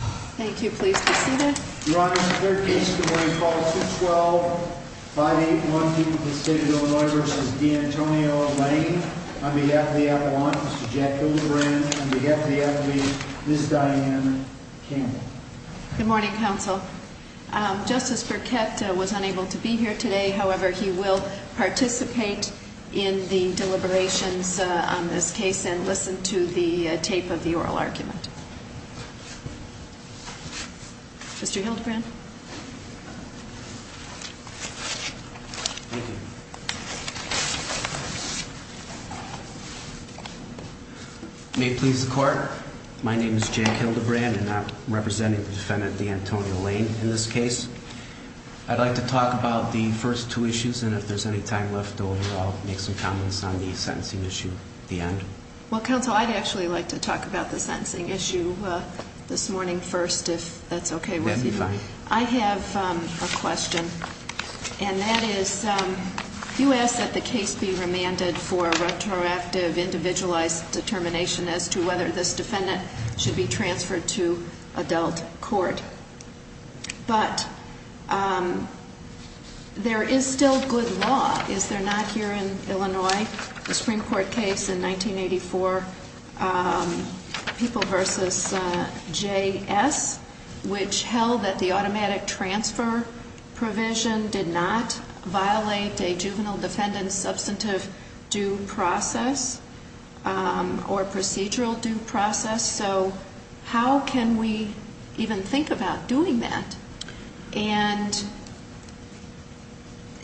On behalf of the athlete, Ms. Diane Campbell. Good morning, counsel. Justice Burkett was unable to be here today. However, he will participate in the deliberations on this case and listen to the tape of the oral argument. Mr. Hildebrand? Thank you. May it please the court. My name is Jack Hildebrand and I'm representing the defendant, D'Antonio Layne, in this case. I'd like to talk about the first two issues and if there's any time left over, I'll make some comments on the sentencing issue at the end. Well, counsel, I'd actually like to talk about the sentencing issue this morning first, if that's okay with you. That'd be fine. I have a question and that is, you asked that the case be remanded for retroactive individualized determination as to whether this defendant should be transferred to adult court. But there is still good law, is there not, here in Illinois? The Supreme Court case in 1984, People v. J.S., which held that the automatic transfer provision did not violate a juvenile defendant's substantive due process or procedural due process. So how can we even think about doing that and,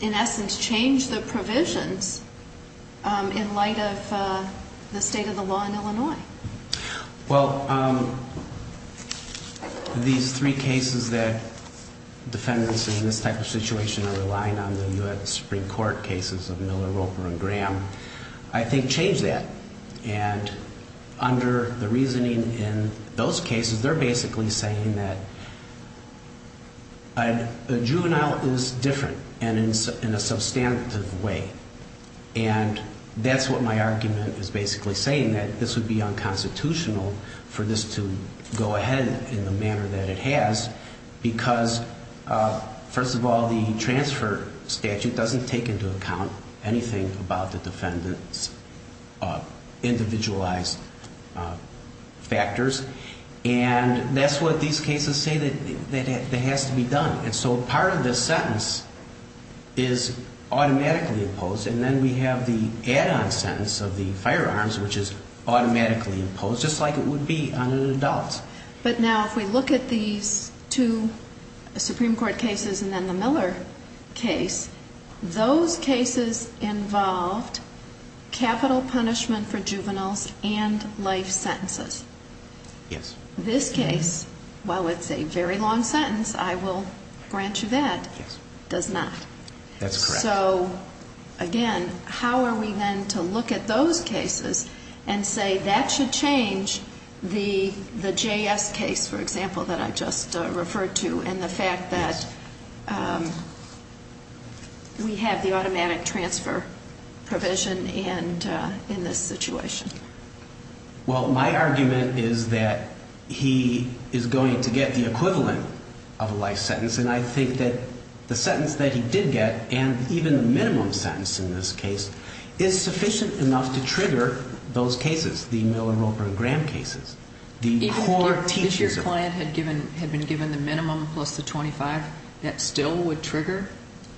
in essence, change the provisions in light of the state of the law in Illinois? Well, these three cases that defendants in this type of situation are relying on, the U.S. Supreme Court cases of Miller, Roper and Graham, I think change that. And under the reasoning in those cases, they're basically saying that a juvenile is different and in a substantive way. And that's what my argument is basically saying, that this would be unconstitutional for this to go ahead in the manner that it has. Because, first of all, the transfer statute doesn't take into account anything about the defendant's individualized factors. And that's what these cases say that has to be done. And so part of this sentence is automatically imposed. And then we have the add-on sentence of the firearms, which is automatically imposed, just like it would be on an adult. But now if we look at these two Supreme Court cases and then the Miller case, those cases involved capital punishment for juveniles and life sentences. Yes. This case, while it's a very long sentence, I will grant you that, does not. That's correct. So, again, how are we then to look at those cases and say that should change the J.S. case, for example, that I just referred to and the fact that we have the automatic transfer provision in this situation? Well, my argument is that he is going to get the equivalent of a life sentence. And I think that the sentence that he did get, and even the minimum sentence in this case, is sufficient enough to trigger those cases, the Miller, Roper, and Graham cases. Even if your client had been given the minimum plus the 25, that still would trigger?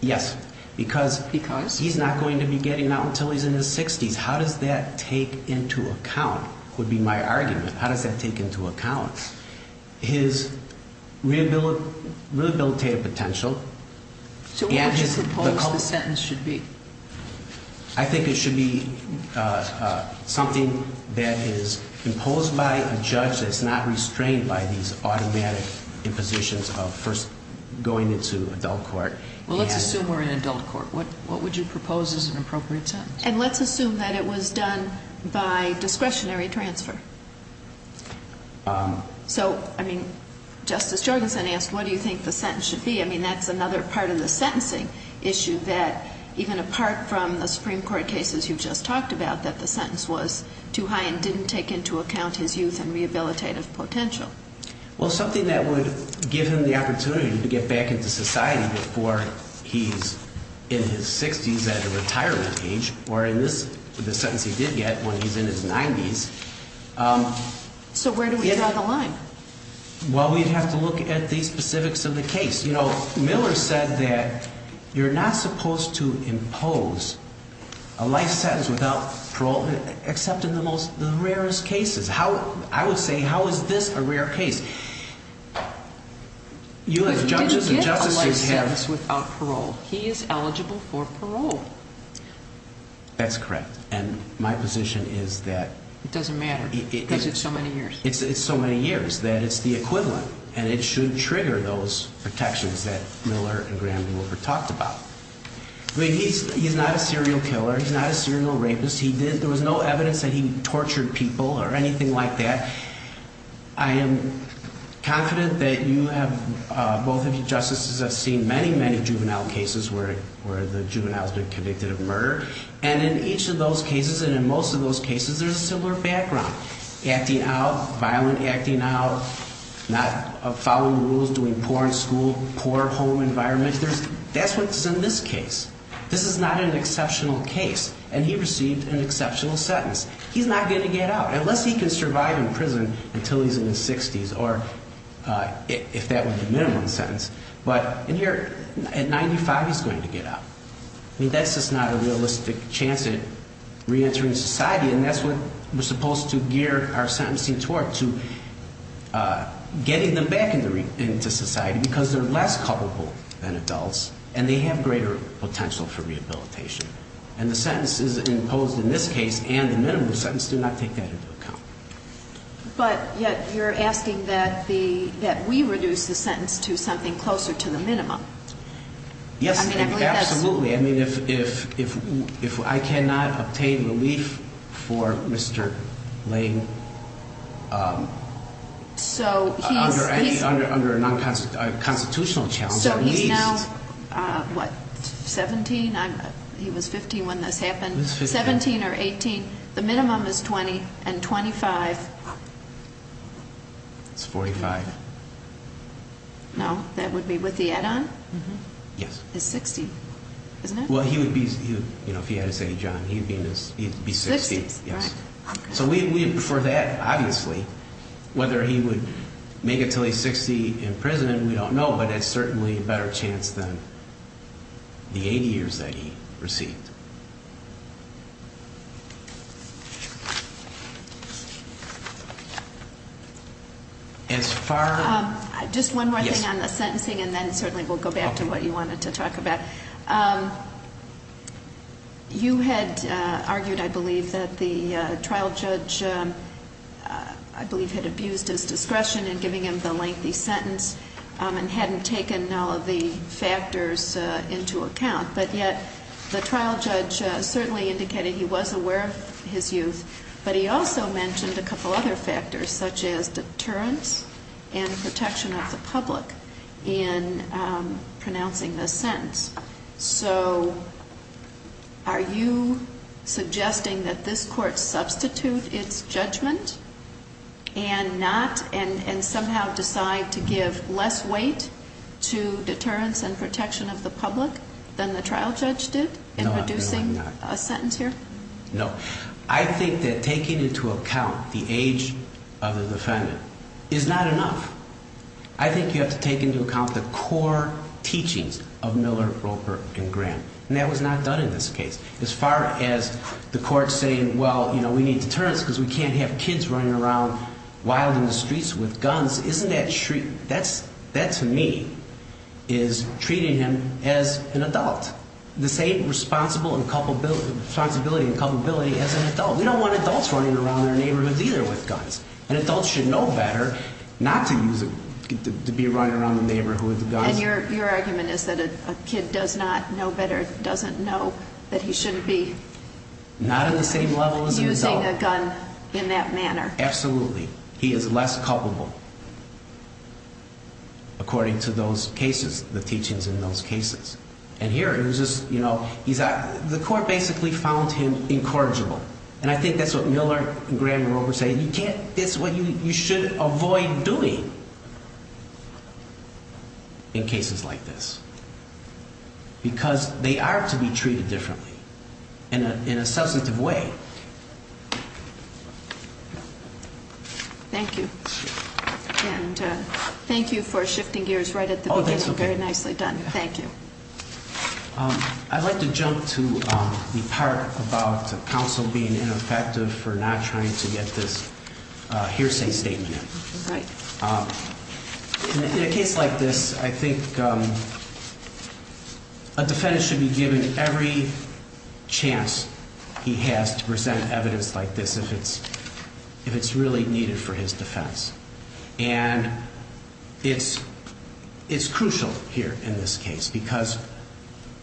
Yes. Because? Because? He's not going to be getting out until he's in his 60s. How does that take into account, would be my argument, how does that take into account his rehabilitative potential? So what would you suppose the sentence should be? I think it should be something that is imposed by a judge that's not restrained by these automatic impositions of first going into adult court. Well, let's assume we're in adult court. What would you propose as an appropriate sentence? And let's assume that it was done by discretionary transfer. So, I mean, Justice Jorgensen asked what do you think the sentence should be. I mean, that's another part of the sentencing issue that even apart from the Supreme Court cases you just talked about, that the sentence was too high and didn't take into account his youth and rehabilitative potential. Well, something that would give him the opportunity to get back into society before he's in his 60s at a retirement age, or in this, the sentence he did get when he's in his 90s. So where do we draw the line? Well, we'd have to look at the specifics of the case. You know, Miller said that you're not supposed to impose a life sentence without parole except in the rarest cases. I would say how is this a rare case? He didn't get a life sentence without parole. He is eligible for parole. That's correct. And my position is that- It doesn't matter because it's so many years. It's so many years that it's the equivalent, and it should trigger those protections that Miller and Graham Wilber talked about. I mean, he's not a serial killer. He's not a serial rapist. There was no evidence that he tortured people or anything like that. I am confident that you have, both of you justices, have seen many, many juvenile cases where the juvenile has been convicted of murder. And in each of those cases, and in most of those cases, there's a similar background. Acting out, violent acting out, not following the rules, doing porn, school, poor home environment. That's what's in this case. This is not an exceptional case. And he received an exceptional sentence. He's not going to get out, unless he can survive in prison until he's in his 60s, or if that was the minimum sentence. But in here, at 95, he's going to get out. I mean, that's just not a realistic chance at reentering society, and that's what we're supposed to gear our sentencing toward, to getting them back into society, because they're less culpable than adults, and they have greater potential for rehabilitation. And the sentences imposed in this case and the minimum sentence do not take that into account. But yet, you're asking that we reduce the sentence to something closer to the minimum. Yes, absolutely. I mean, if I cannot obtain relief for Mr. Lane under a non-constitutional challenge, at least. So he's now, what, 17? He was 15 when this happened. 17 or 18. The minimum is 20 and 25. It's 45. No, that would be with the add-on? Yes. His 60, isn't it? Well, he would be, you know, if he had to say John, he'd be 60. So for that, obviously, whether he would make it until he's 60 in prison, we don't know, but it's certainly a better chance than the 80 years that he received. As far as? Just one more thing on the sentencing, and then certainly we'll go back to what you wanted to talk about. You had argued, I believe, that the trial judge, I believe, had abused his discretion in giving him the lengthy sentence and hadn't taken all of the factors into account. But yet the trial judge certainly indicated he was aware of his youth, but he also mentioned a couple other factors, such as deterrence and protection of the public in pronouncing this sentence. So are you suggesting that this Court substitute its judgment and not, and somehow decide to give less weight to deterrence and protection of the public than the trial judge did in producing a sentence here? No, I'm not. No. I think that taking into account the age of the defendant is not enough. I think you have to take into account the core teachings of Miller, Roper, and Graham. And that was not done in this case. As far as the Court saying, well, you know, we need deterrence because we can't have kids running around wild in the streets with guns, isn't that, that to me is treating him as an adult. This ain't responsibility and culpability as an adult. We don't want adults running around our neighborhoods either with guns. An adult should know better not to be running around the neighborhood with guns. And your argument is that a kid does not know better, doesn't know that he shouldn't be using a gun in that manner. Absolutely. He is less culpable according to those cases, the teachings in those cases. And here it was just, you know, the Court basically found him incorrigible. And I think that's what Miller and Graham and Roper say. You can't, that's what you should avoid doing in cases like this. Because they are to be treated differently in a substantive way. Thank you. And thank you for shifting gears right at the beginning. Very nicely done. Thank you. I'd like to jump to the part about counsel being ineffective for not trying to get this hearsay statement. Right. In a case like this, I think a defendant should be given every chance he has to present evidence like this if it's really needed for his defense. And it's crucial here in this case because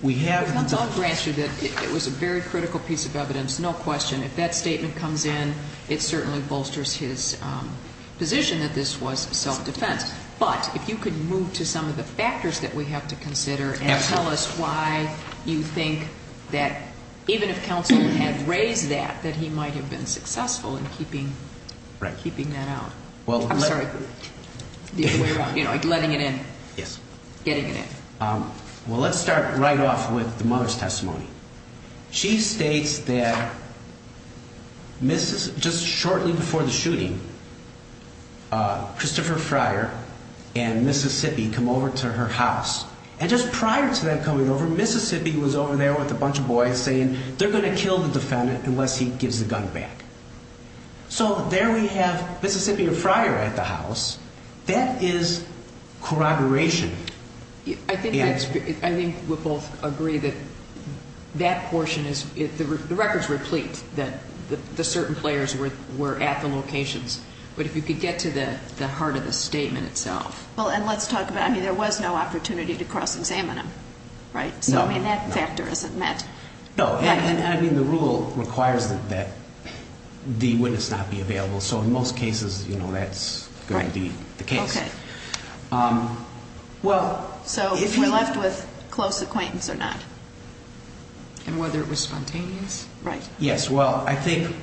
we have the I'll grant you that it was a very critical piece of evidence, no question. If that statement comes in, it certainly bolsters his position that this was self-defense. But if you could move to some of the factors that we have to consider and tell us why you think that even if counsel had raised that, that he might have been successful in keeping that out. I'm sorry. Letting it in. Yes. Getting it in. Well, let's start right off with the mother's testimony. She states that just shortly before the shooting, Christopher Fryer and Mississippi come over to her house. And just prior to them coming over, Mississippi was over there with a bunch of boys saying they're going to kill the defendant unless he gives the gun back. So there we have Mississippi or Fryer at the house. That is corroboration. I think we both agree that that portion is, the records replete that the certain players were at the locations. But if you could get to the heart of the statement itself. Well, and let's talk about, I mean, there was no opportunity to cross-examine him, right? No. So, I mean, that factor isn't met. No. And, I mean, the rule requires that the witness not be available. So, in most cases, you know, that's going to be the case. Right. Okay. Well. So, if we're left with close acquaintance or not. And whether it was spontaneous. Right. Yes. Well, I think,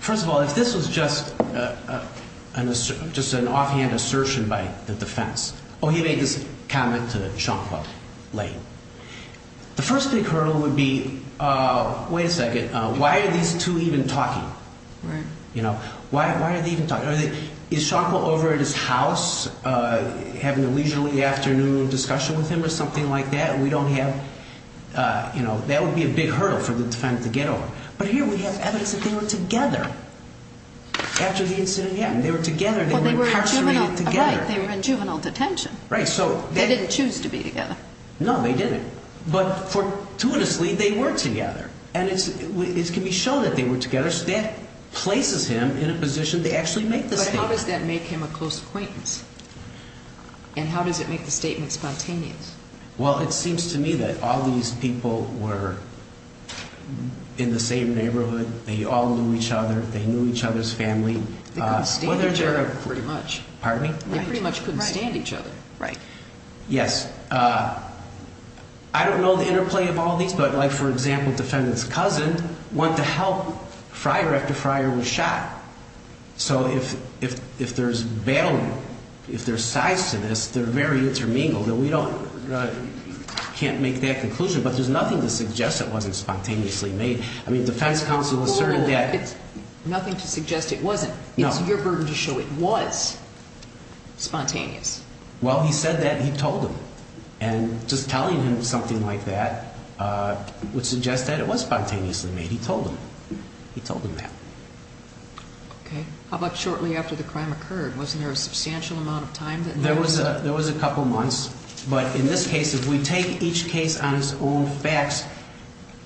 first of all, if this was just an offhand assertion by the defense. Oh, he made this comment to Sean Claude Lane. The first big hurdle would be, wait a second, why are these two even talking? Right. You know, why are they even talking? Is Sean Claude over at his house having a leisurely afternoon discussion with him or something like that? We don't have, you know, that would be a big hurdle for the defendant to get over. But here we have evidence that they were together after the incident. Yeah. They were together. They were incarcerated together. Right. They were in juvenile detention. Right. They didn't choose to be together. No, they didn't. But, fortuitously, they were together. And it can be shown that they were together, so that places him in a position to actually make the statement. But how does that make him a close acquaintance? And how does it make the statement spontaneous? Well, it seems to me that all these people were in the same neighborhood. They all knew each other. They knew each other's family. They couldn't stand each other pretty much. Pardon me? They pretty much couldn't stand each other. Right. Yes. I don't know the interplay of all these, but, like, for example, defendant's cousin went to help Fryer after Fryer was shot. So if there's battle, if there's sides to this, they're very intermingled. And we don't, can't make that conclusion. But there's nothing to suggest it wasn't spontaneously made. I mean, defense counsel asserted that. Nothing to suggest it wasn't. No. It's your burden to show it was spontaneous. Well, he said that, and he told him. And just telling him something like that would suggest that it was spontaneously made. He told him. He told him that. Okay. How about shortly after the crime occurred? Wasn't there a substantial amount of time? There was a couple months. But in this case, if we take each case on its own facts,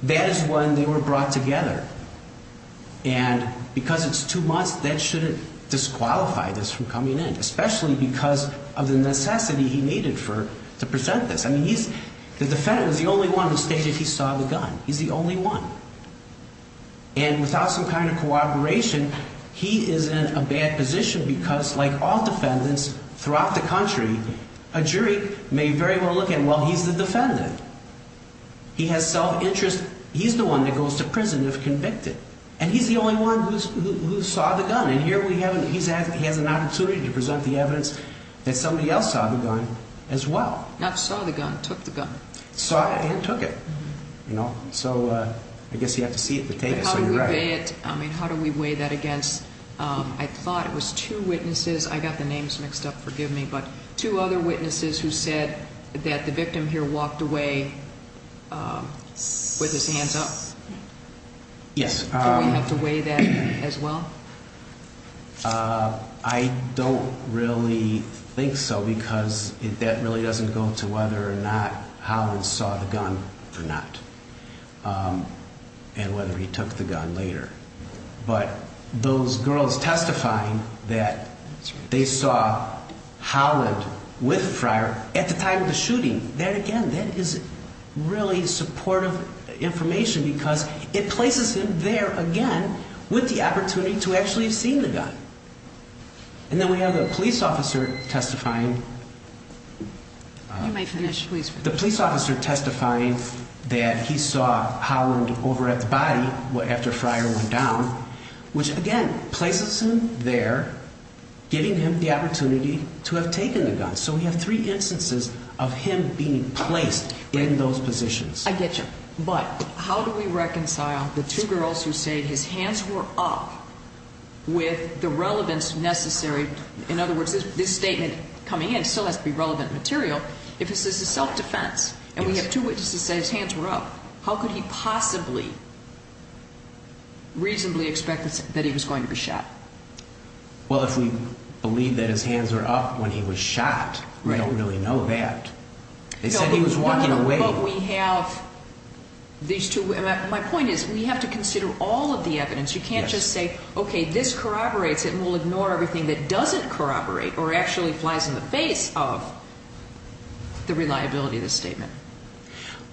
that is when they were brought together. And because it's two months, that shouldn't disqualify this from coming in, especially because of the necessity he needed to present this. I mean, the defendant was the only one who stated he saw the gun. He's the only one. And without some kind of cooperation, he is in a bad position because, like all defendants throughout the country, a jury may very well look at him, well, he's the defendant. He has self-interest. He's the one that goes to prison if convicted. And he's the only one who saw the gun. And here he has an opportunity to present the evidence that somebody else saw the gun as well. Not saw the gun, took the gun. Saw it and took it. So I guess you have to see it to take it. So you're right. How do we weigh it? I mean, how do we weigh that against, I thought it was two witnesses. I got the names mixed up, forgive me. But two other witnesses who said that the victim here walked away with his hands up. Yes. Do we have to weigh that as well? I don't really think so because that really doesn't go to whether or not Holland saw the gun or not. And whether he took the gun later. But those girls testifying that they saw Holland with Fryer at the time of the shooting, that again, that is really supportive information because it places him there again with the opportunity to actually have seen the gun. And then we have the police officer testifying. You may finish, please. The police officer testifying that he saw Holland over at the body after Fryer went down, which again places him there, giving him the opportunity to have taken the gun. So we have three instances of him being placed in those positions. I get you. But how do we reconcile the two girls who say his hands were up with the relevance necessary? In other words, this statement coming in still has to be relevant material. If this is a self-defense and we have two witnesses say his hands were up, how could he possibly reasonably expect that he was going to be shot? Well, if we believe that his hands were up when he was shot, we don't really know that. They said he was walking away. But we have these two. My point is we have to consider all of the evidence. You can't just say, okay, this corroborates it and we'll ignore everything that doesn't corroborate or actually flies in the face of the reliability of the statement.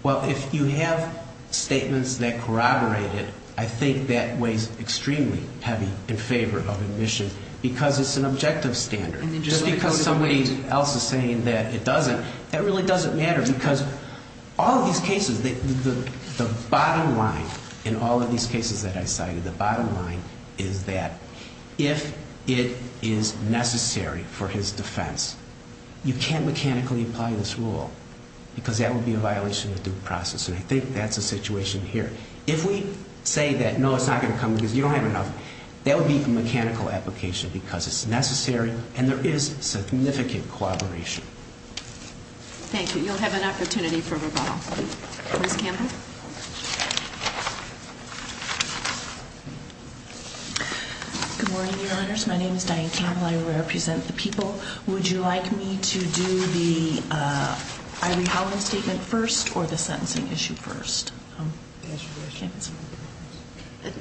Well, if you have statements that corroborate it, I think that weighs extremely heavy in favor of admission because it's an objective standard. Just because somebody else is saying that it doesn't, that really doesn't matter because all of these cases, the bottom line in all of these cases that I cited, the bottom line is that if it is necessary for his defense, you can't mechanically apply this rule because that would be a violation of due process, and I think that's the situation here. If we say that, no, it's not going to come because you don't have enough, that would be a mechanical application because it's necessary and there is significant corroboration. Thank you. You'll have an opportunity for rebuttal. Ms. Campbell? Good morning, Your Honors. My name is Diane Campbell. I represent the people. Would you like me to do the Irie-Holland statement first or the sentencing issue first?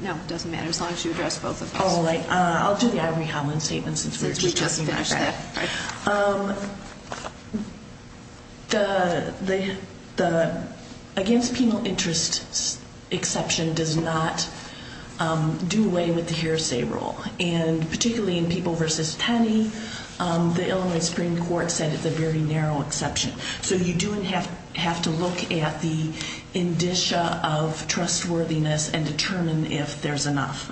No, it doesn't matter as long as you address both of those. All right. I'll do the Irie-Holland statement since we just finished that. Okay. The against penal interest exception does not do away with the hearsay rule, and particularly in people versus penny, the Illinois Supreme Court said it's a very narrow exception. So you do have to look at the indicia of trustworthiness and determine if there's enough.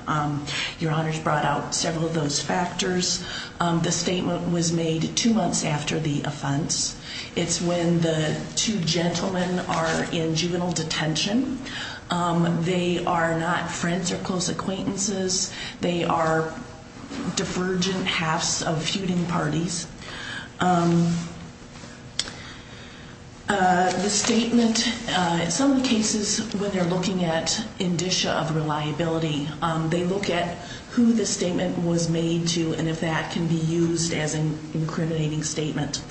Your Honors brought out several of those factors. The statement was made two months after the offense. It's when the two gentlemen are in juvenile detention. They are not friends or close acquaintances. They are divergent halves of feuding parties. The statement, in some cases, when they're looking at indicia of reliability, they look at who the statement was made to and if that can be used as an incriminating statement.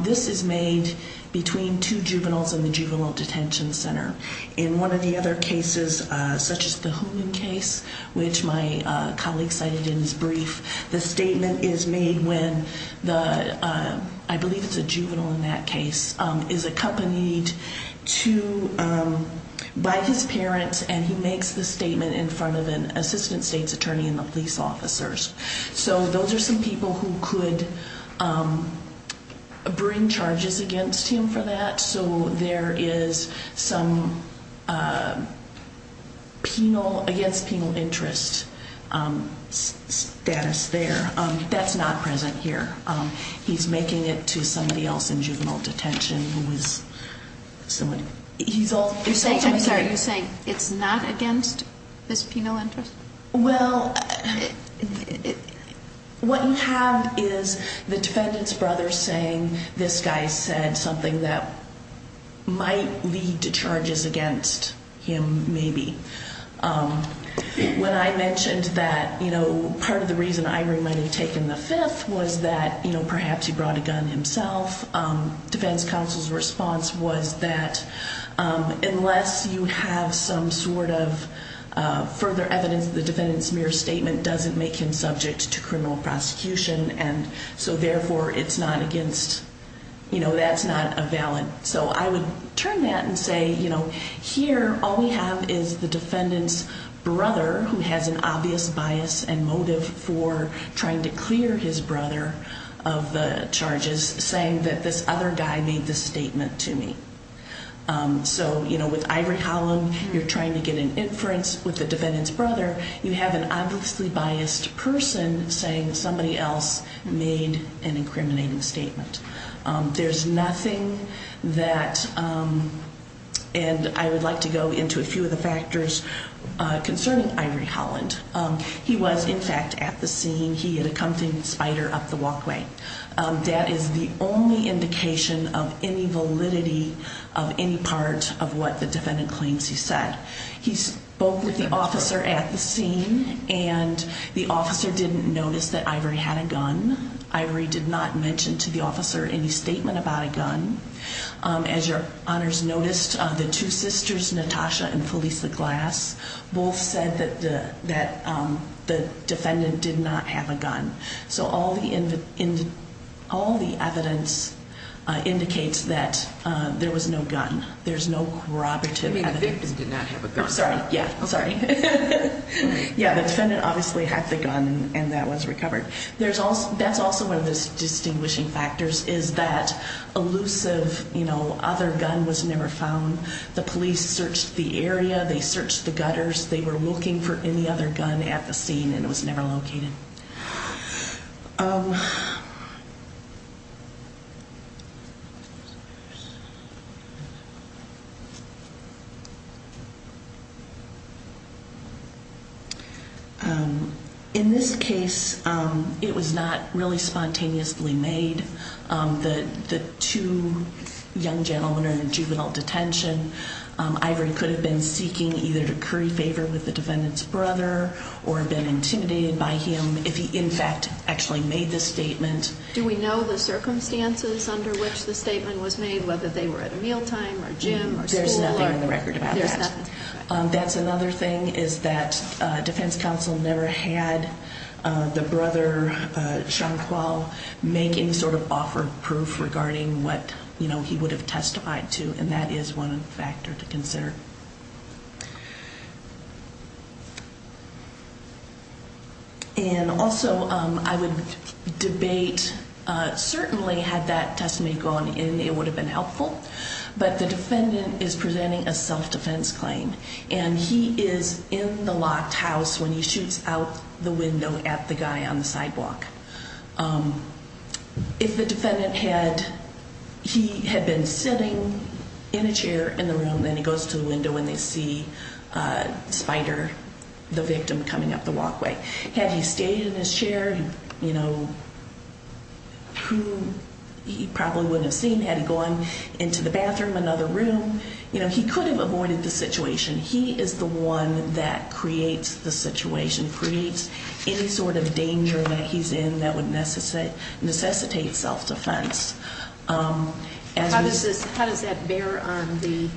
This is made between two juveniles in the juvenile detention center. In one of the other cases, such as the Holland case, which my colleague cited in his brief, the statement is made when the, I believe it's a juvenile in that case, is accompanied by his parents, and he makes the statement in front of an assistant state's attorney and the police officers. So those are some people who could bring charges against him for that. So there is some against penal interest status there. That's not present here. He's making it to somebody else in juvenile detention who is somebody. I'm sorry. You're saying it's not against his penal interest? Well, what you have is the defendant's brother saying this guy said something that might lead to charges against him, maybe. When I mentioned that part of the reason Irene might have taken the fifth was that perhaps he brought a gun himself, defense counsel's response was that unless you have some sort of further evidence, the defendant's mere statement doesn't make him subject to criminal prosecution, and so therefore it's not against, you know, that's not a valid. So I would turn that and say, you know, here all we have is the defendant's brother, who has an obvious bias and motive for trying to clear his brother of the charges, saying that this other guy made this statement to me. So, you know, with Ivory Holland, you're trying to get an inference with the defendant's brother. You have an obviously biased person saying somebody else made an incriminating statement. There's nothing that, and I would like to go into a few of the factors concerning Ivory Holland. He was, in fact, at the scene. He had accompanied Spider up the walkway. That is the only indication of any validity of any part of what the defendant claims he said. He spoke with the officer at the scene, and the officer didn't notice that Ivory had a gun. Ivory did not mention to the officer any statement about a gun. As your honors noticed, the two sisters, Natasha and Felisa Glass, both said that the defendant did not have a gun. So all the evidence indicates that there was no gun. There's no corroborative evidence. You mean the victim did not have a gun? Sorry, yeah, sorry. Yeah, the defendant obviously had the gun, and that was recovered. That's also one of the distinguishing factors is that elusive, you know, other gun was never found. The police searched the area. They searched the gutters. They were looking for any other gun at the scene, and it was never located. Thank you. In this case, it was not really spontaneously made. The two young gentlemen are in juvenile detention. Ivory could have been seeking either to curry favor with the defendant's brother or been intimidated by him if he, in fact, actually made the statement. Do we know the circumstances under which the statement was made, whether they were at a mealtime or gym or school? There's nothing in the record about that. There's nothing. That's another thing is that defense counsel never had the brother, Sean Qual, make any sort of offer of proof regarding what, you know, he would have testified to, and that is one factor to consider. And also, I would debate certainly had that testimony gone in, it would have been helpful. But the defendant is presenting a self-defense claim, and he is in the locked house when he shoots out the window at the guy on the sidewalk. If the defendant had, he had been sitting in a chair in the room, then he goes to the window and they see Spider, the victim, coming up the walkway. Had he stayed in his chair, you know, who he probably wouldn't have seen had he gone into the bathroom, another room. You know, he could have avoided the situation. He is the one that creates the situation, creates any sort of danger that he's in that would necessitate self-defense. How does that bear on the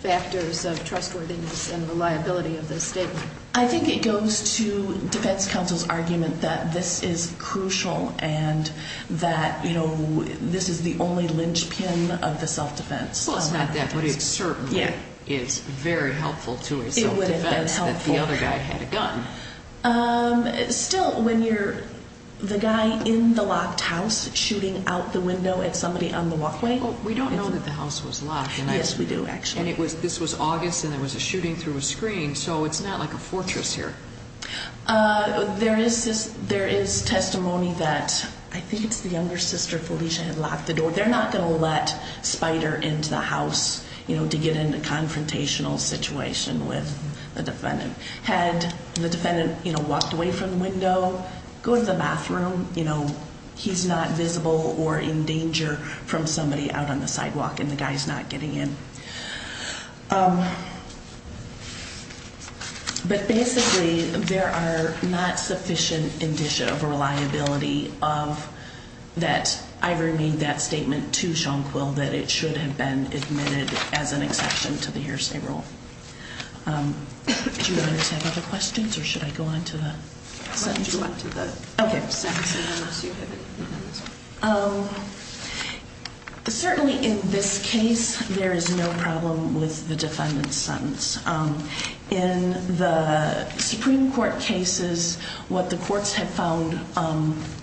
factors of trustworthiness and reliability of the statement? I think it goes to defense counsel's argument that this is crucial and that, you know, this is the only linchpin of the self-defense. Well, it's not that, but it certainly is very helpful to a self-defense that the other guy had a gun. Still, when you're the guy in the locked house shooting out the window at somebody on the walkway. Well, we don't know that the house was locked. Yes, we do, actually. And this was August and there was a shooting through a screen, so it's not like a fortress here. There is testimony that I think it's the younger sister Felicia had locked the door. They're not going to let Spider into the house, you know, to get in a confrontational situation with the defendant. Had the defendant, you know, walked away from the window, go to the bathroom, you know, he's not visible or in danger from somebody out on the sidewalk and the guy's not getting in. But basically, there are not sufficient indicia of reliability of that. I remain that statement to Sean Quill that it should have been admitted as an exception to the hearsay rule. Do you have other questions or should I go on to the sentencing? Okay. Certainly, in this case, there is no problem with the defendant's sentence. In the Supreme Court cases, what the courts have found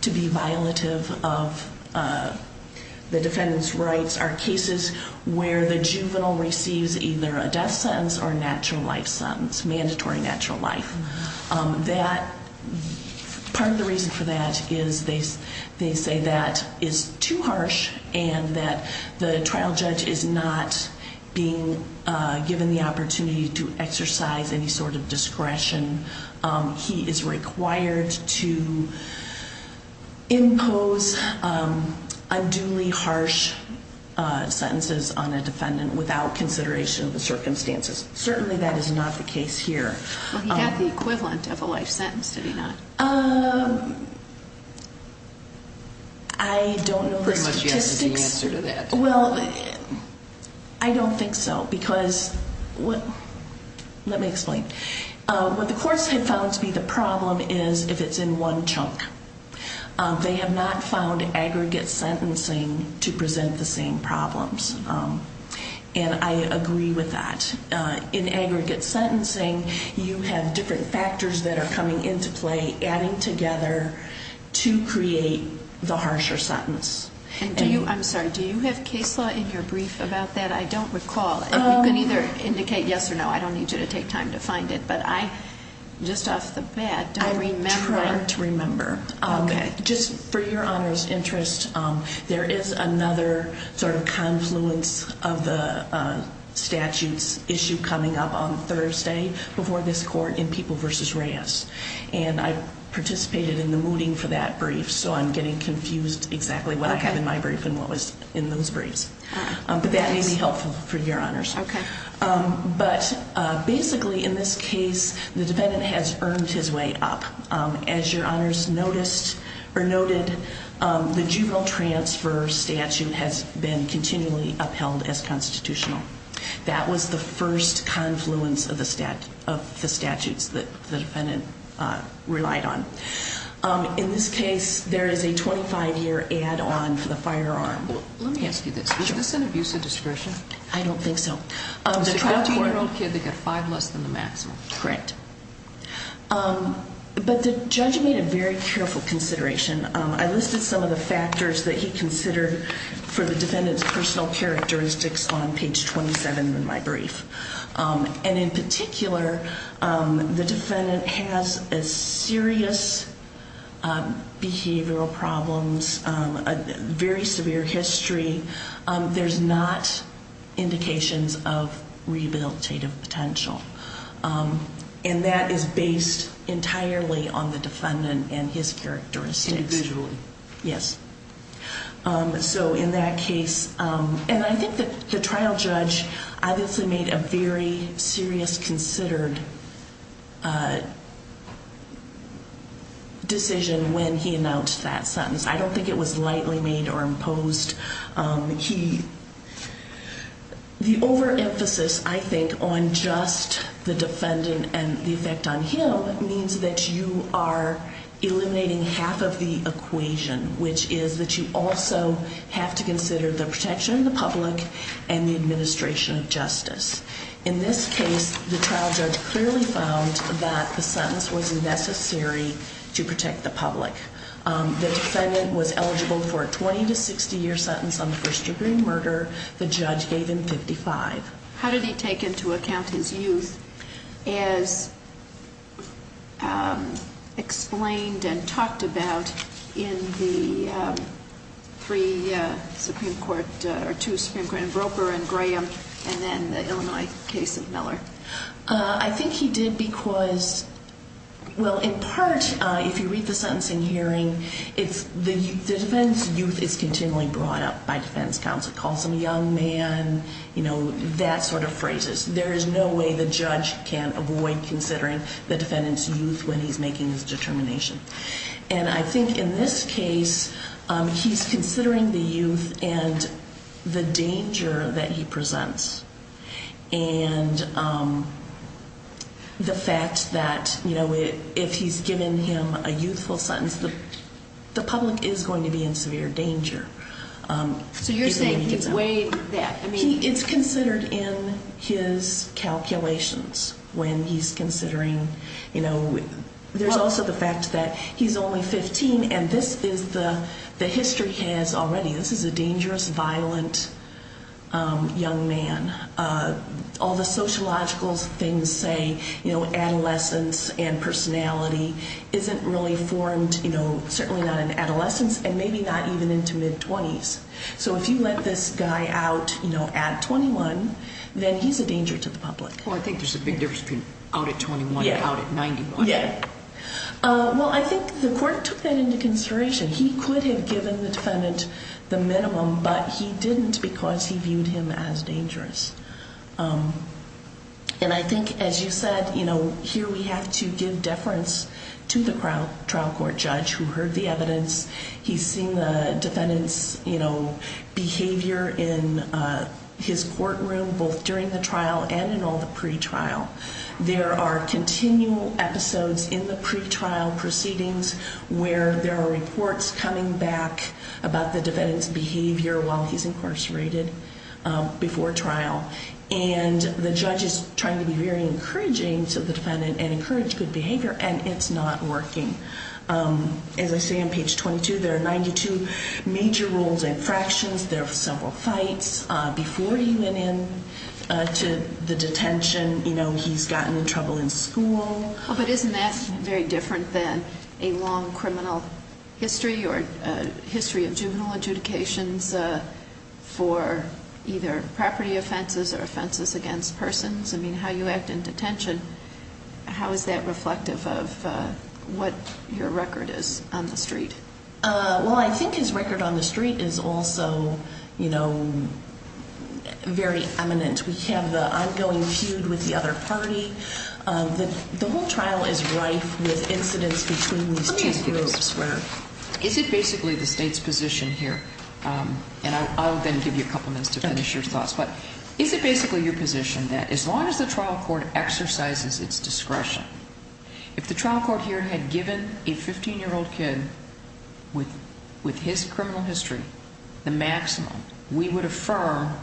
to be violative of the defendant's rights are cases where the juvenile receives either a death sentence or a natural life sentence, mandatory natural life. Part of the reason for that is they say that is too harsh and that the trial judge is not being given the opportunity to exercise any sort of discretion. He is required to impose unduly harsh sentences on a defendant without consideration of the circumstances. Certainly, that is not the case here. Well, he got the equivalent of a life sentence, did he not? I don't know the statistics. Well, I don't think so. Let me explain. What the courts have found to be the problem is if it's in one chunk. They have not found aggregate sentencing to present the same problems. And I agree with that. In aggregate sentencing, you have different factors that are coming into play, adding together to create the harsher sentence. I'm sorry. Do you have case law in your brief about that? I don't recall. You can either indicate yes or no. I don't need you to take time to find it. But I, just off the bat, don't remember. I'm trying to remember. Okay. Just for your honor's interest, there is another sort of confluence of the statute's issue coming up on Thursday before this court in People v. Reyes. And I participated in the mooting for that brief, so I'm getting confused exactly what I have in my brief and what was in those briefs. But that may be helpful for your honors. Okay. But basically in this case, the defendant has earned his way up. As your honors noticed or noted, the juvenile transfer statute has been continually upheld as constitutional. That was the first confluence of the statutes that the defendant relied on. In this case, there is a 25-year add-on for the firearm. Let me ask you this. Sure. Is this an abuse of discretion? I don't think so. It's a 15-year-old kid that got five less than the maximum. Correct. But the judge made a very careful consideration. I listed some of the factors that he considered for the defendant's personal characteristics on page 27 in my brief. And in particular, the defendant has serious behavioral problems, a very severe history. There's not indications of rehabilitative potential. And that is based entirely on the defendant and his characteristics. Individually. Yes. So in that case, and I think the trial judge obviously made a very serious, considered decision when he announced that sentence. I don't think it was lightly made or imposed. The overemphasis, I think, on just the defendant and the effect on him means that you are eliminating half of the equation, which is that you also have to consider the protection of the public and the administration of justice. In this case, the trial judge clearly found that the sentence was necessary to protect the public. The defendant was eligible for a 20- to 60-year sentence on first-degree murder. The judge gave him 55. How did he take into account his youth as explained and talked about in the three Supreme Court, or two Supreme Court, in Groper and Graham and then the Illinois case of Miller? I think he did because, well, in part, if you read the sentencing hearing, the defendant's youth is continually brought up by defense counsel. Calls him a young man, you know, that sort of phrases. There is no way the judge can avoid considering the defendant's youth when he's making his determination. And I think in this case, he's considering the youth and the danger that he presents. And the fact that, you know, if he's given him a youthful sentence, the public is going to be in severe danger. So you're saying he's way back. It's considered in his calculations when he's considering, you know. There's also the fact that he's only 15, and this is the history he has already. This is a dangerous, violent young man. All the sociological things say, you know, adolescence and personality isn't really formed, you know, certainly not in adolescence and maybe not even into mid-20s. So if you let this guy out, you know, at 21, then he's a danger to the public. Well, I think there's a big difference between out at 21 and out at 91. Yeah. Well, I think the court took that into consideration. He could have given the defendant the minimum, but he didn't because he viewed him as dangerous. And I think, as you said, you know, here we have to give deference to the trial court judge who heard the evidence. He's seen the defendant's, you know, behavior in his courtroom both during the trial and in all the pretrial. There are continual episodes in the pretrial proceedings where there are reports coming back about the defendant's behavior while he's incarcerated before trial. And the judge is trying to be very encouraging to the defendant and encourage good behavior, and it's not working. As I say on page 22, there are 92 major rules and fractions. There are several fights. Before he went into the detention, you know, he's gotten in trouble in school. But isn't that very different than a long criminal history or history of juvenile adjudications for either property offenses or offenses against persons? I mean, how you act in detention, how is that reflective of what your record is on the street? Well, I think his record on the street is also, you know, very eminent. We have the ongoing feud with the other party. The whole trial is rife with incidents between these two groups. Let me ask you this. Is it basically the state's position here? And I'll then give you a couple minutes to finish your thoughts. But is it basically your position that as long as the trial court exercises its discretion, if the trial court here had given a 15-year-old kid with his criminal history the maximum, we would affirm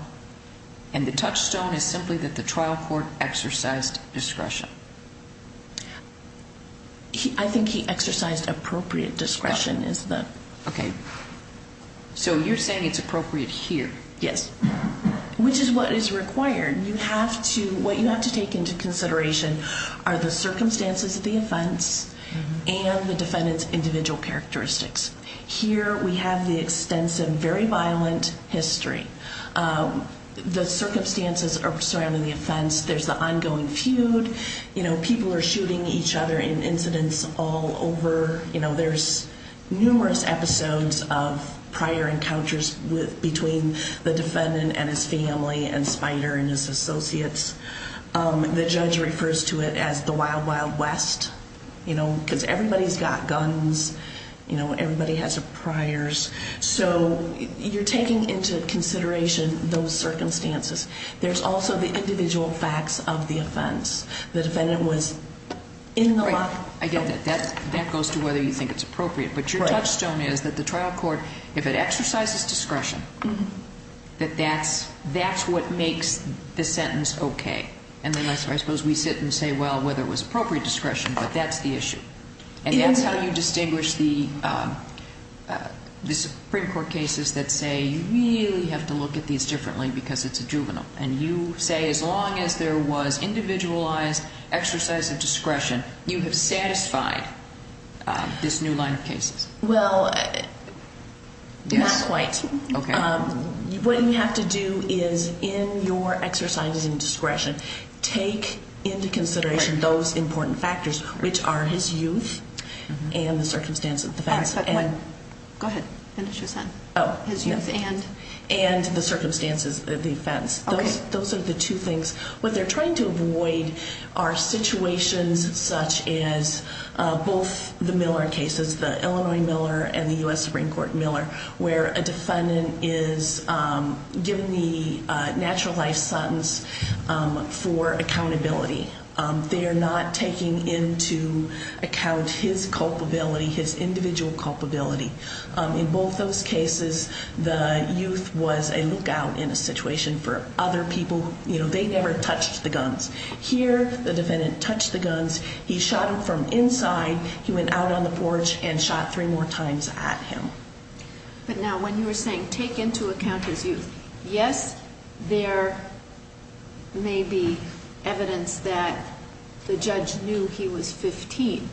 and the touchstone is simply that the trial court exercised discretion? I think he exercised appropriate discretion. Okay. So you're saying it's appropriate here? Yes. Which is what is required. What you have to take into consideration are the circumstances of the offense and the defendant's individual characteristics. Here we have the extensive, very violent history. The circumstances surrounding the offense. There's the ongoing feud. You know, people are shooting each other in incidents all over. The defendant and his family and Spider and his associates. The judge refers to it as the wild, wild west, you know, because everybody's got guns. You know, everybody has priors. So you're taking into consideration those circumstances. There's also the individual facts of the offense. The defendant was in the lot. Again, that goes to whether you think it's appropriate. But your touchstone is that the trial court, if it exercises discretion, that that's what makes the sentence okay. And then I suppose we sit and say, well, whether it was appropriate discretion, but that's the issue. And that's how you distinguish the Supreme Court cases that say you really have to look at these differently because it's a juvenile. And you say as long as there was individualized exercise of discretion, you have satisfied this new line of cases. Well, not quite. Okay. What you have to do is in your exercise of discretion, take into consideration those important factors, which are his youth and the circumstances of the offense. Go ahead. Finish your sentence. His youth and the circumstances of the offense. Those are the two things. What they're trying to avoid are situations such as both the Miller cases, the Illinois Miller and the U.S. Supreme Court Miller, where a defendant is given the natural life sentence for accountability. They are not taking into account his culpability, his individual culpability. In both those cases, the youth was a lookout in a situation for other people. You know, they never touched the guns. Here, the defendant touched the guns. He shot him from inside. He went out on the porch and shot three more times at him. But now when you were saying take into account his youth, yes, there may be evidence that the judge knew he was 15,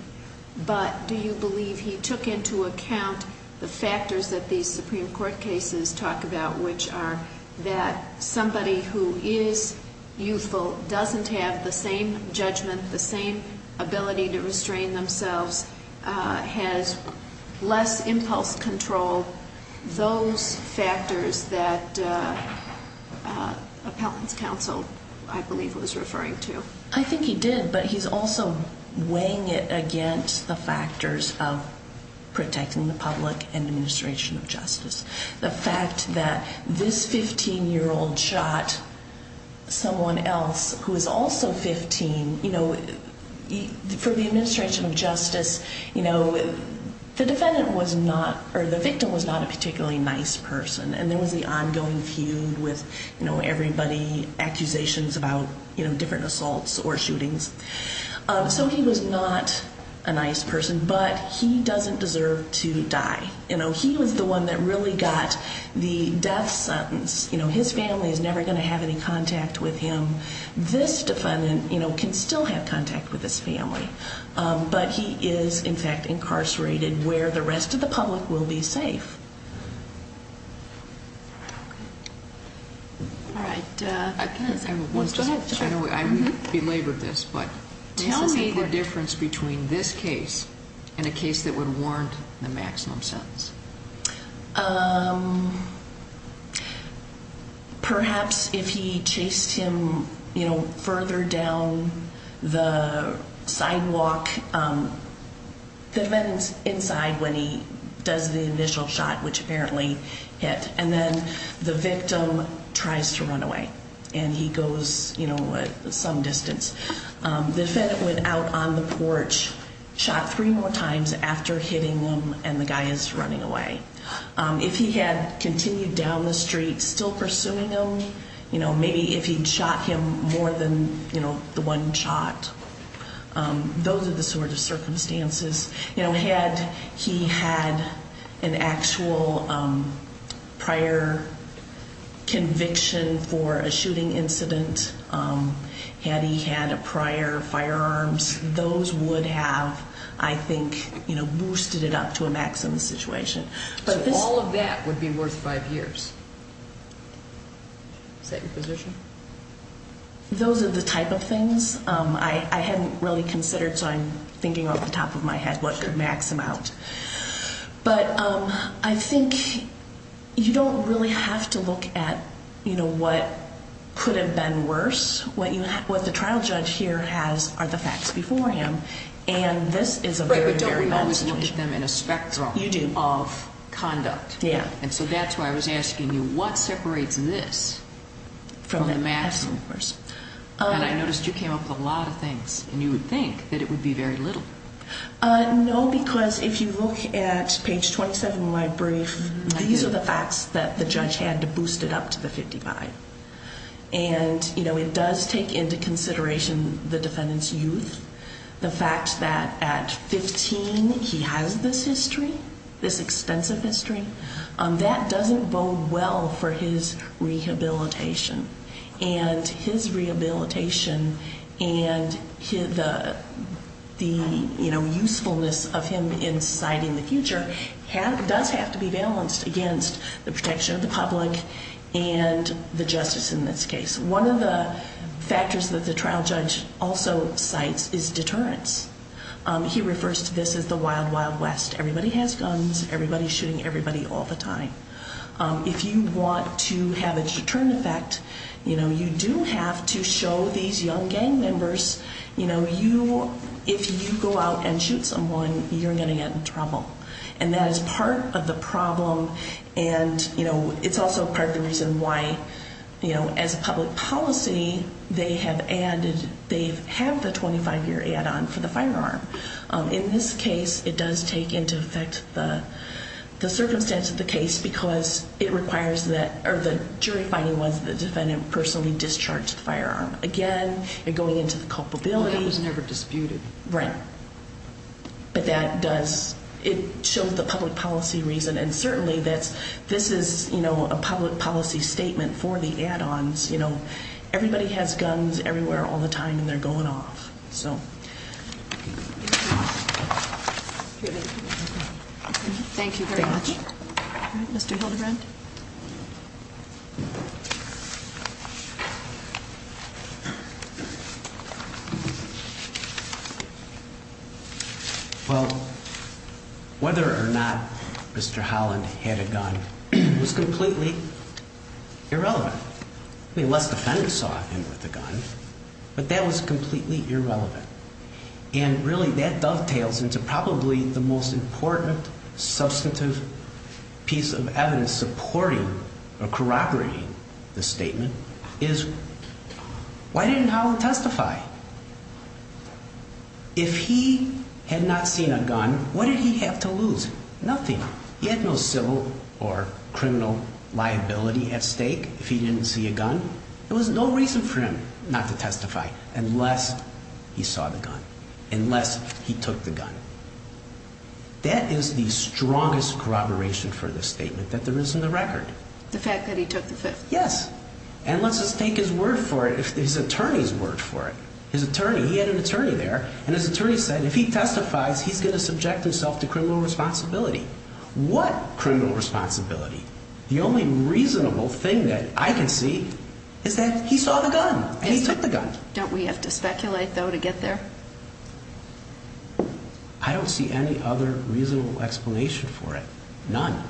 but do you believe he took into account the factors that these Supreme Court cases talk about, which are that somebody who is youthful doesn't have the same judgment, the same ability to restrain themselves, has less impulse control, those factors that appellant's counsel, I believe, was referring to? I think he did, but he's also weighing it against the factors of protecting the public and administration of justice. The fact that this 15-year-old shot someone else who is also 15, you know, for the administration of justice, you know, the defendant was not, or the victim was not a particularly nice person, and there was the ongoing feud with, you know, everybody, accusations about, you know, different assaults or shootings. So he was not a nice person, but he doesn't deserve to die. You know, he was the one that really got the death sentence. You know, his family is never going to have any contact with him. This defendant, you know, can still have contact with his family, but he is, in fact, incarcerated where the rest of the public will be safe. All right. Go ahead. I'm going to be late with this, but tell me the difference between this case and a case that would warrant the maximum sentence. Perhaps if he chased him, you know, further down the sidewalk, the defendant's inside when he does the initial shot, which apparently hit, and then the victim tries to run away and he goes, you know, some distance. The defendant went out on the porch, shot three more times after hitting him, and the guy is running away. If he had continued down the street, still pursuing him, you know, maybe if he'd shot him more than, you know, the one shot. Those are the sort of circumstances. You know, had he had an actual prior conviction for a shooting incident, had he had a prior firearms, those would have, I think, you know, boosted it up to a maximum situation. So all of that would be worth five years. Is that your position? Those are the type of things. I hadn't really considered, so I'm thinking off the top of my head what could max him out. But I think you don't really have to look at, you know, what could have been worse. What the trial judge here has are the facts before him, and this is a very, very bad situation. Right, but don't we always look at them in a spectrum of conduct? You do. And so that's why I was asking you, what separates this from the maximum? And I noticed you came up with a lot of things, and you would think that it would be very little. No, because if you look at page 27 of my brief, these are the facts that the judge had to boost it up to the 55. And, you know, it does take into consideration the defendant's youth, the fact that at 15 he has this history, this extensive history. That doesn't bode well for his rehabilitation. And his rehabilitation and the, you know, usefulness of him in society in the future does have to be balanced against the protection of the public and the justice in this case. One of the factors that the trial judge also cites is deterrence. He refers to this as the wild, wild west. Everybody has guns. Everybody's shooting everybody all the time. If you want to have a deterrent effect, you know, you do have to show these young gang members, you know, if you go out and shoot someone, you're going to get in trouble. And that is part of the problem, and, you know, it's also part of the reason why, you know, as a public policy, they have added, they have the 25-year add-on for the firearm. In this case, it does take into effect the circumstance of the case because it requires that, or the jury finding was the defendant personally discharged the firearm. Again, you're going into the culpability. That was never disputed. Right. But that does, it shows the public policy reason, and certainly that this is, you know, a public policy statement for the add-ons. You know, everybody has guns everywhere all the time, and they're going off. So. Thank you very much. Thank you. All right, Mr. Hildebrand? Well, whether or not Mr. Holland had a gun was completely irrelevant. I mean, unless the defendant saw him with a gun, but that was completely irrelevant. And really that dovetails into probably the most important substantive piece of evidence supporting or corroborating the statement is why didn't Holland testify? If he had not seen a gun, what did he have to lose? Nothing. He had no civil or criminal liability at stake if he didn't see a gun. There was no reason for him not to testify unless he saw the gun, unless he took the gun. That is the strongest corroboration for this statement that there is in the record. The fact that he took the gun. Yes. Unless his word for it, his attorney's word for it. His attorney, he had an attorney there, and his attorney said if he testifies, he's going to subject himself to criminal responsibility. What criminal responsibility? The only reasonable thing that I can see is that he saw the gun and he took the gun. Don't we have to speculate, though, to get there? I don't see any other reasonable explanation for it. None.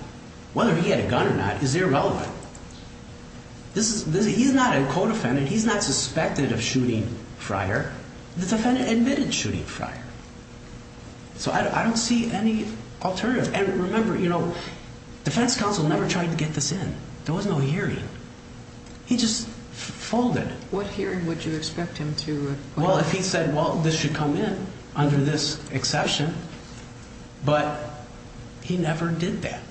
Whether he had a gun or not is irrelevant. He's not a co-defendant. He's not suspected of shooting Fryer. The defendant admitted shooting Fryer. So I don't see any alternative. And remember, you know, defense counsel never tried to get this in. There was no hearing. He just folded. What hearing would you expect him to put up? Well, if he said, well, this should come in under this exception, but he never did that.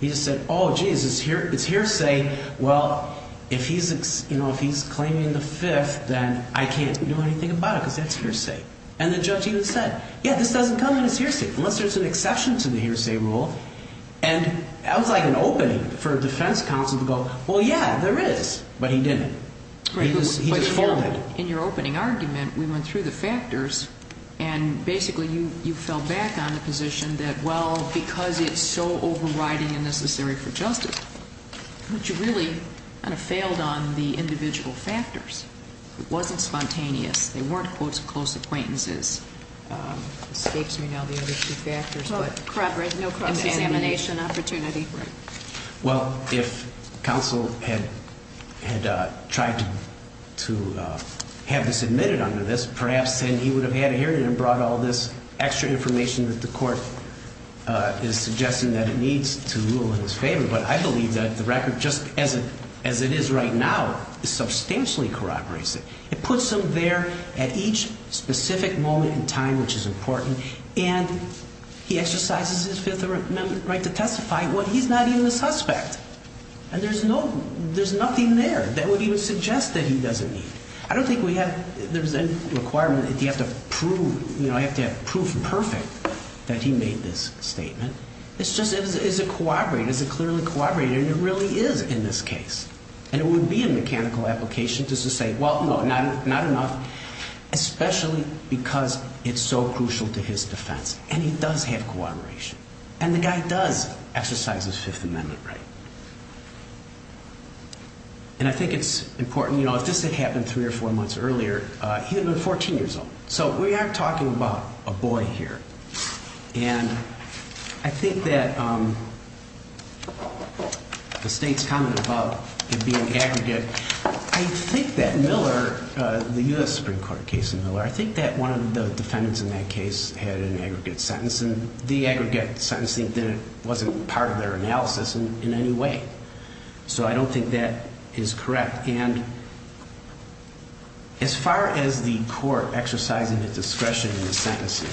He just said, oh, geez, it's hearsay. Well, if he's claiming the fifth, then I can't do anything about it because that's hearsay. And the judge even said, yeah, this doesn't come under hearsay unless there's an exception to the hearsay rule. And that was like an opening for defense counsel to go, well, yeah, there is. But he didn't. He just folded. In your opening argument, we went through the factors, and basically you fell back on the position that, well, because it's so overriding and necessary for justice, that you really kind of failed on the individual factors. It wasn't spontaneous. They weren't, quote, close acquaintances. Escapes me now the other two factors. But no cross-examination opportunity. Right. Well, if counsel had tried to have this admitted under this, perhaps then he would have had a hearing and brought all this extra information that the court is suggesting that it needs to rule in his favor. But I believe that the record, just as it is right now, substantially corroborates it. It puts him there at each specific moment in time, which is important. And he exercises his fifth amendment right to testify when he's not even a suspect. And there's nothing there that would even suggest that he doesn't need it. I don't think there's any requirement that you have to have proof perfect that he made this statement. It's just, is it corroborated? Is it clearly corroborated? And it really is in this case. And it would be a mechanical application just to say, well, no, not enough, especially because it's so crucial to his defense. And he does have corroboration. And the guy does exercise his fifth amendment right. And I think it's important, you know, if this had happened three or four months earlier, he would have been 14 years old. So we are talking about a boy here. And I think that the state's comment about it being aggregate, I think that Miller, the U.S. Supreme Court case in Miller, I think that one of the defendants in that case had an aggregate sentence. And the aggregate sentencing wasn't part of their analysis in any way. So I don't think that is correct. And as far as the court exercising its discretion in the sentencing,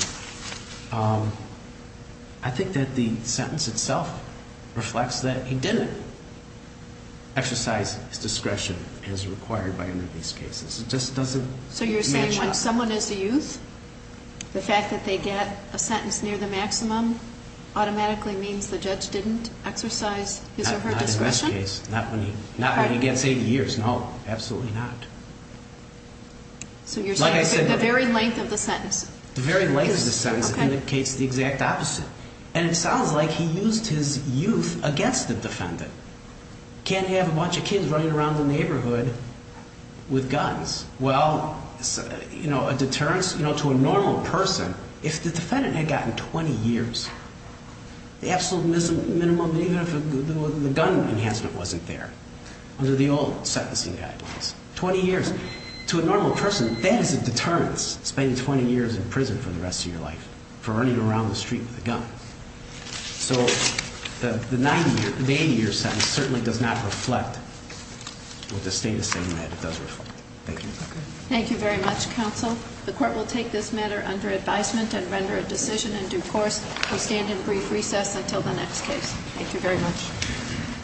I think that the sentence itself reflects that he didn't exercise his discretion as required by any of these cases. So you're saying when someone is a youth, the fact that they get a sentence near the maximum automatically means the judge didn't exercise his or her discretion? Not in this case. Not when he gets 80 years. No, absolutely not. So you're saying the very length of the sentence. The very length of the sentence indicates the exact opposite. And it sounds like he used his youth against the defendant. Can't have a bunch of kids running around the neighborhood with guns. Well, a deterrence to a normal person, if the defendant had gotten 20 years, the absolute minimum, even if the gun enhancement wasn't there, under the old sentencing guidelines, 20 years. To a normal person, that is a deterrence, spending 20 years in prison for the rest of your life, for running around the street with a gun. So the 80-year sentence certainly does not reflect what the state is saying that it does reflect. Thank you. Thank you very much, counsel. The court will take this matter under advisement and render a decision in due course. We'll stand in brief recess until the next case. Thank you very much.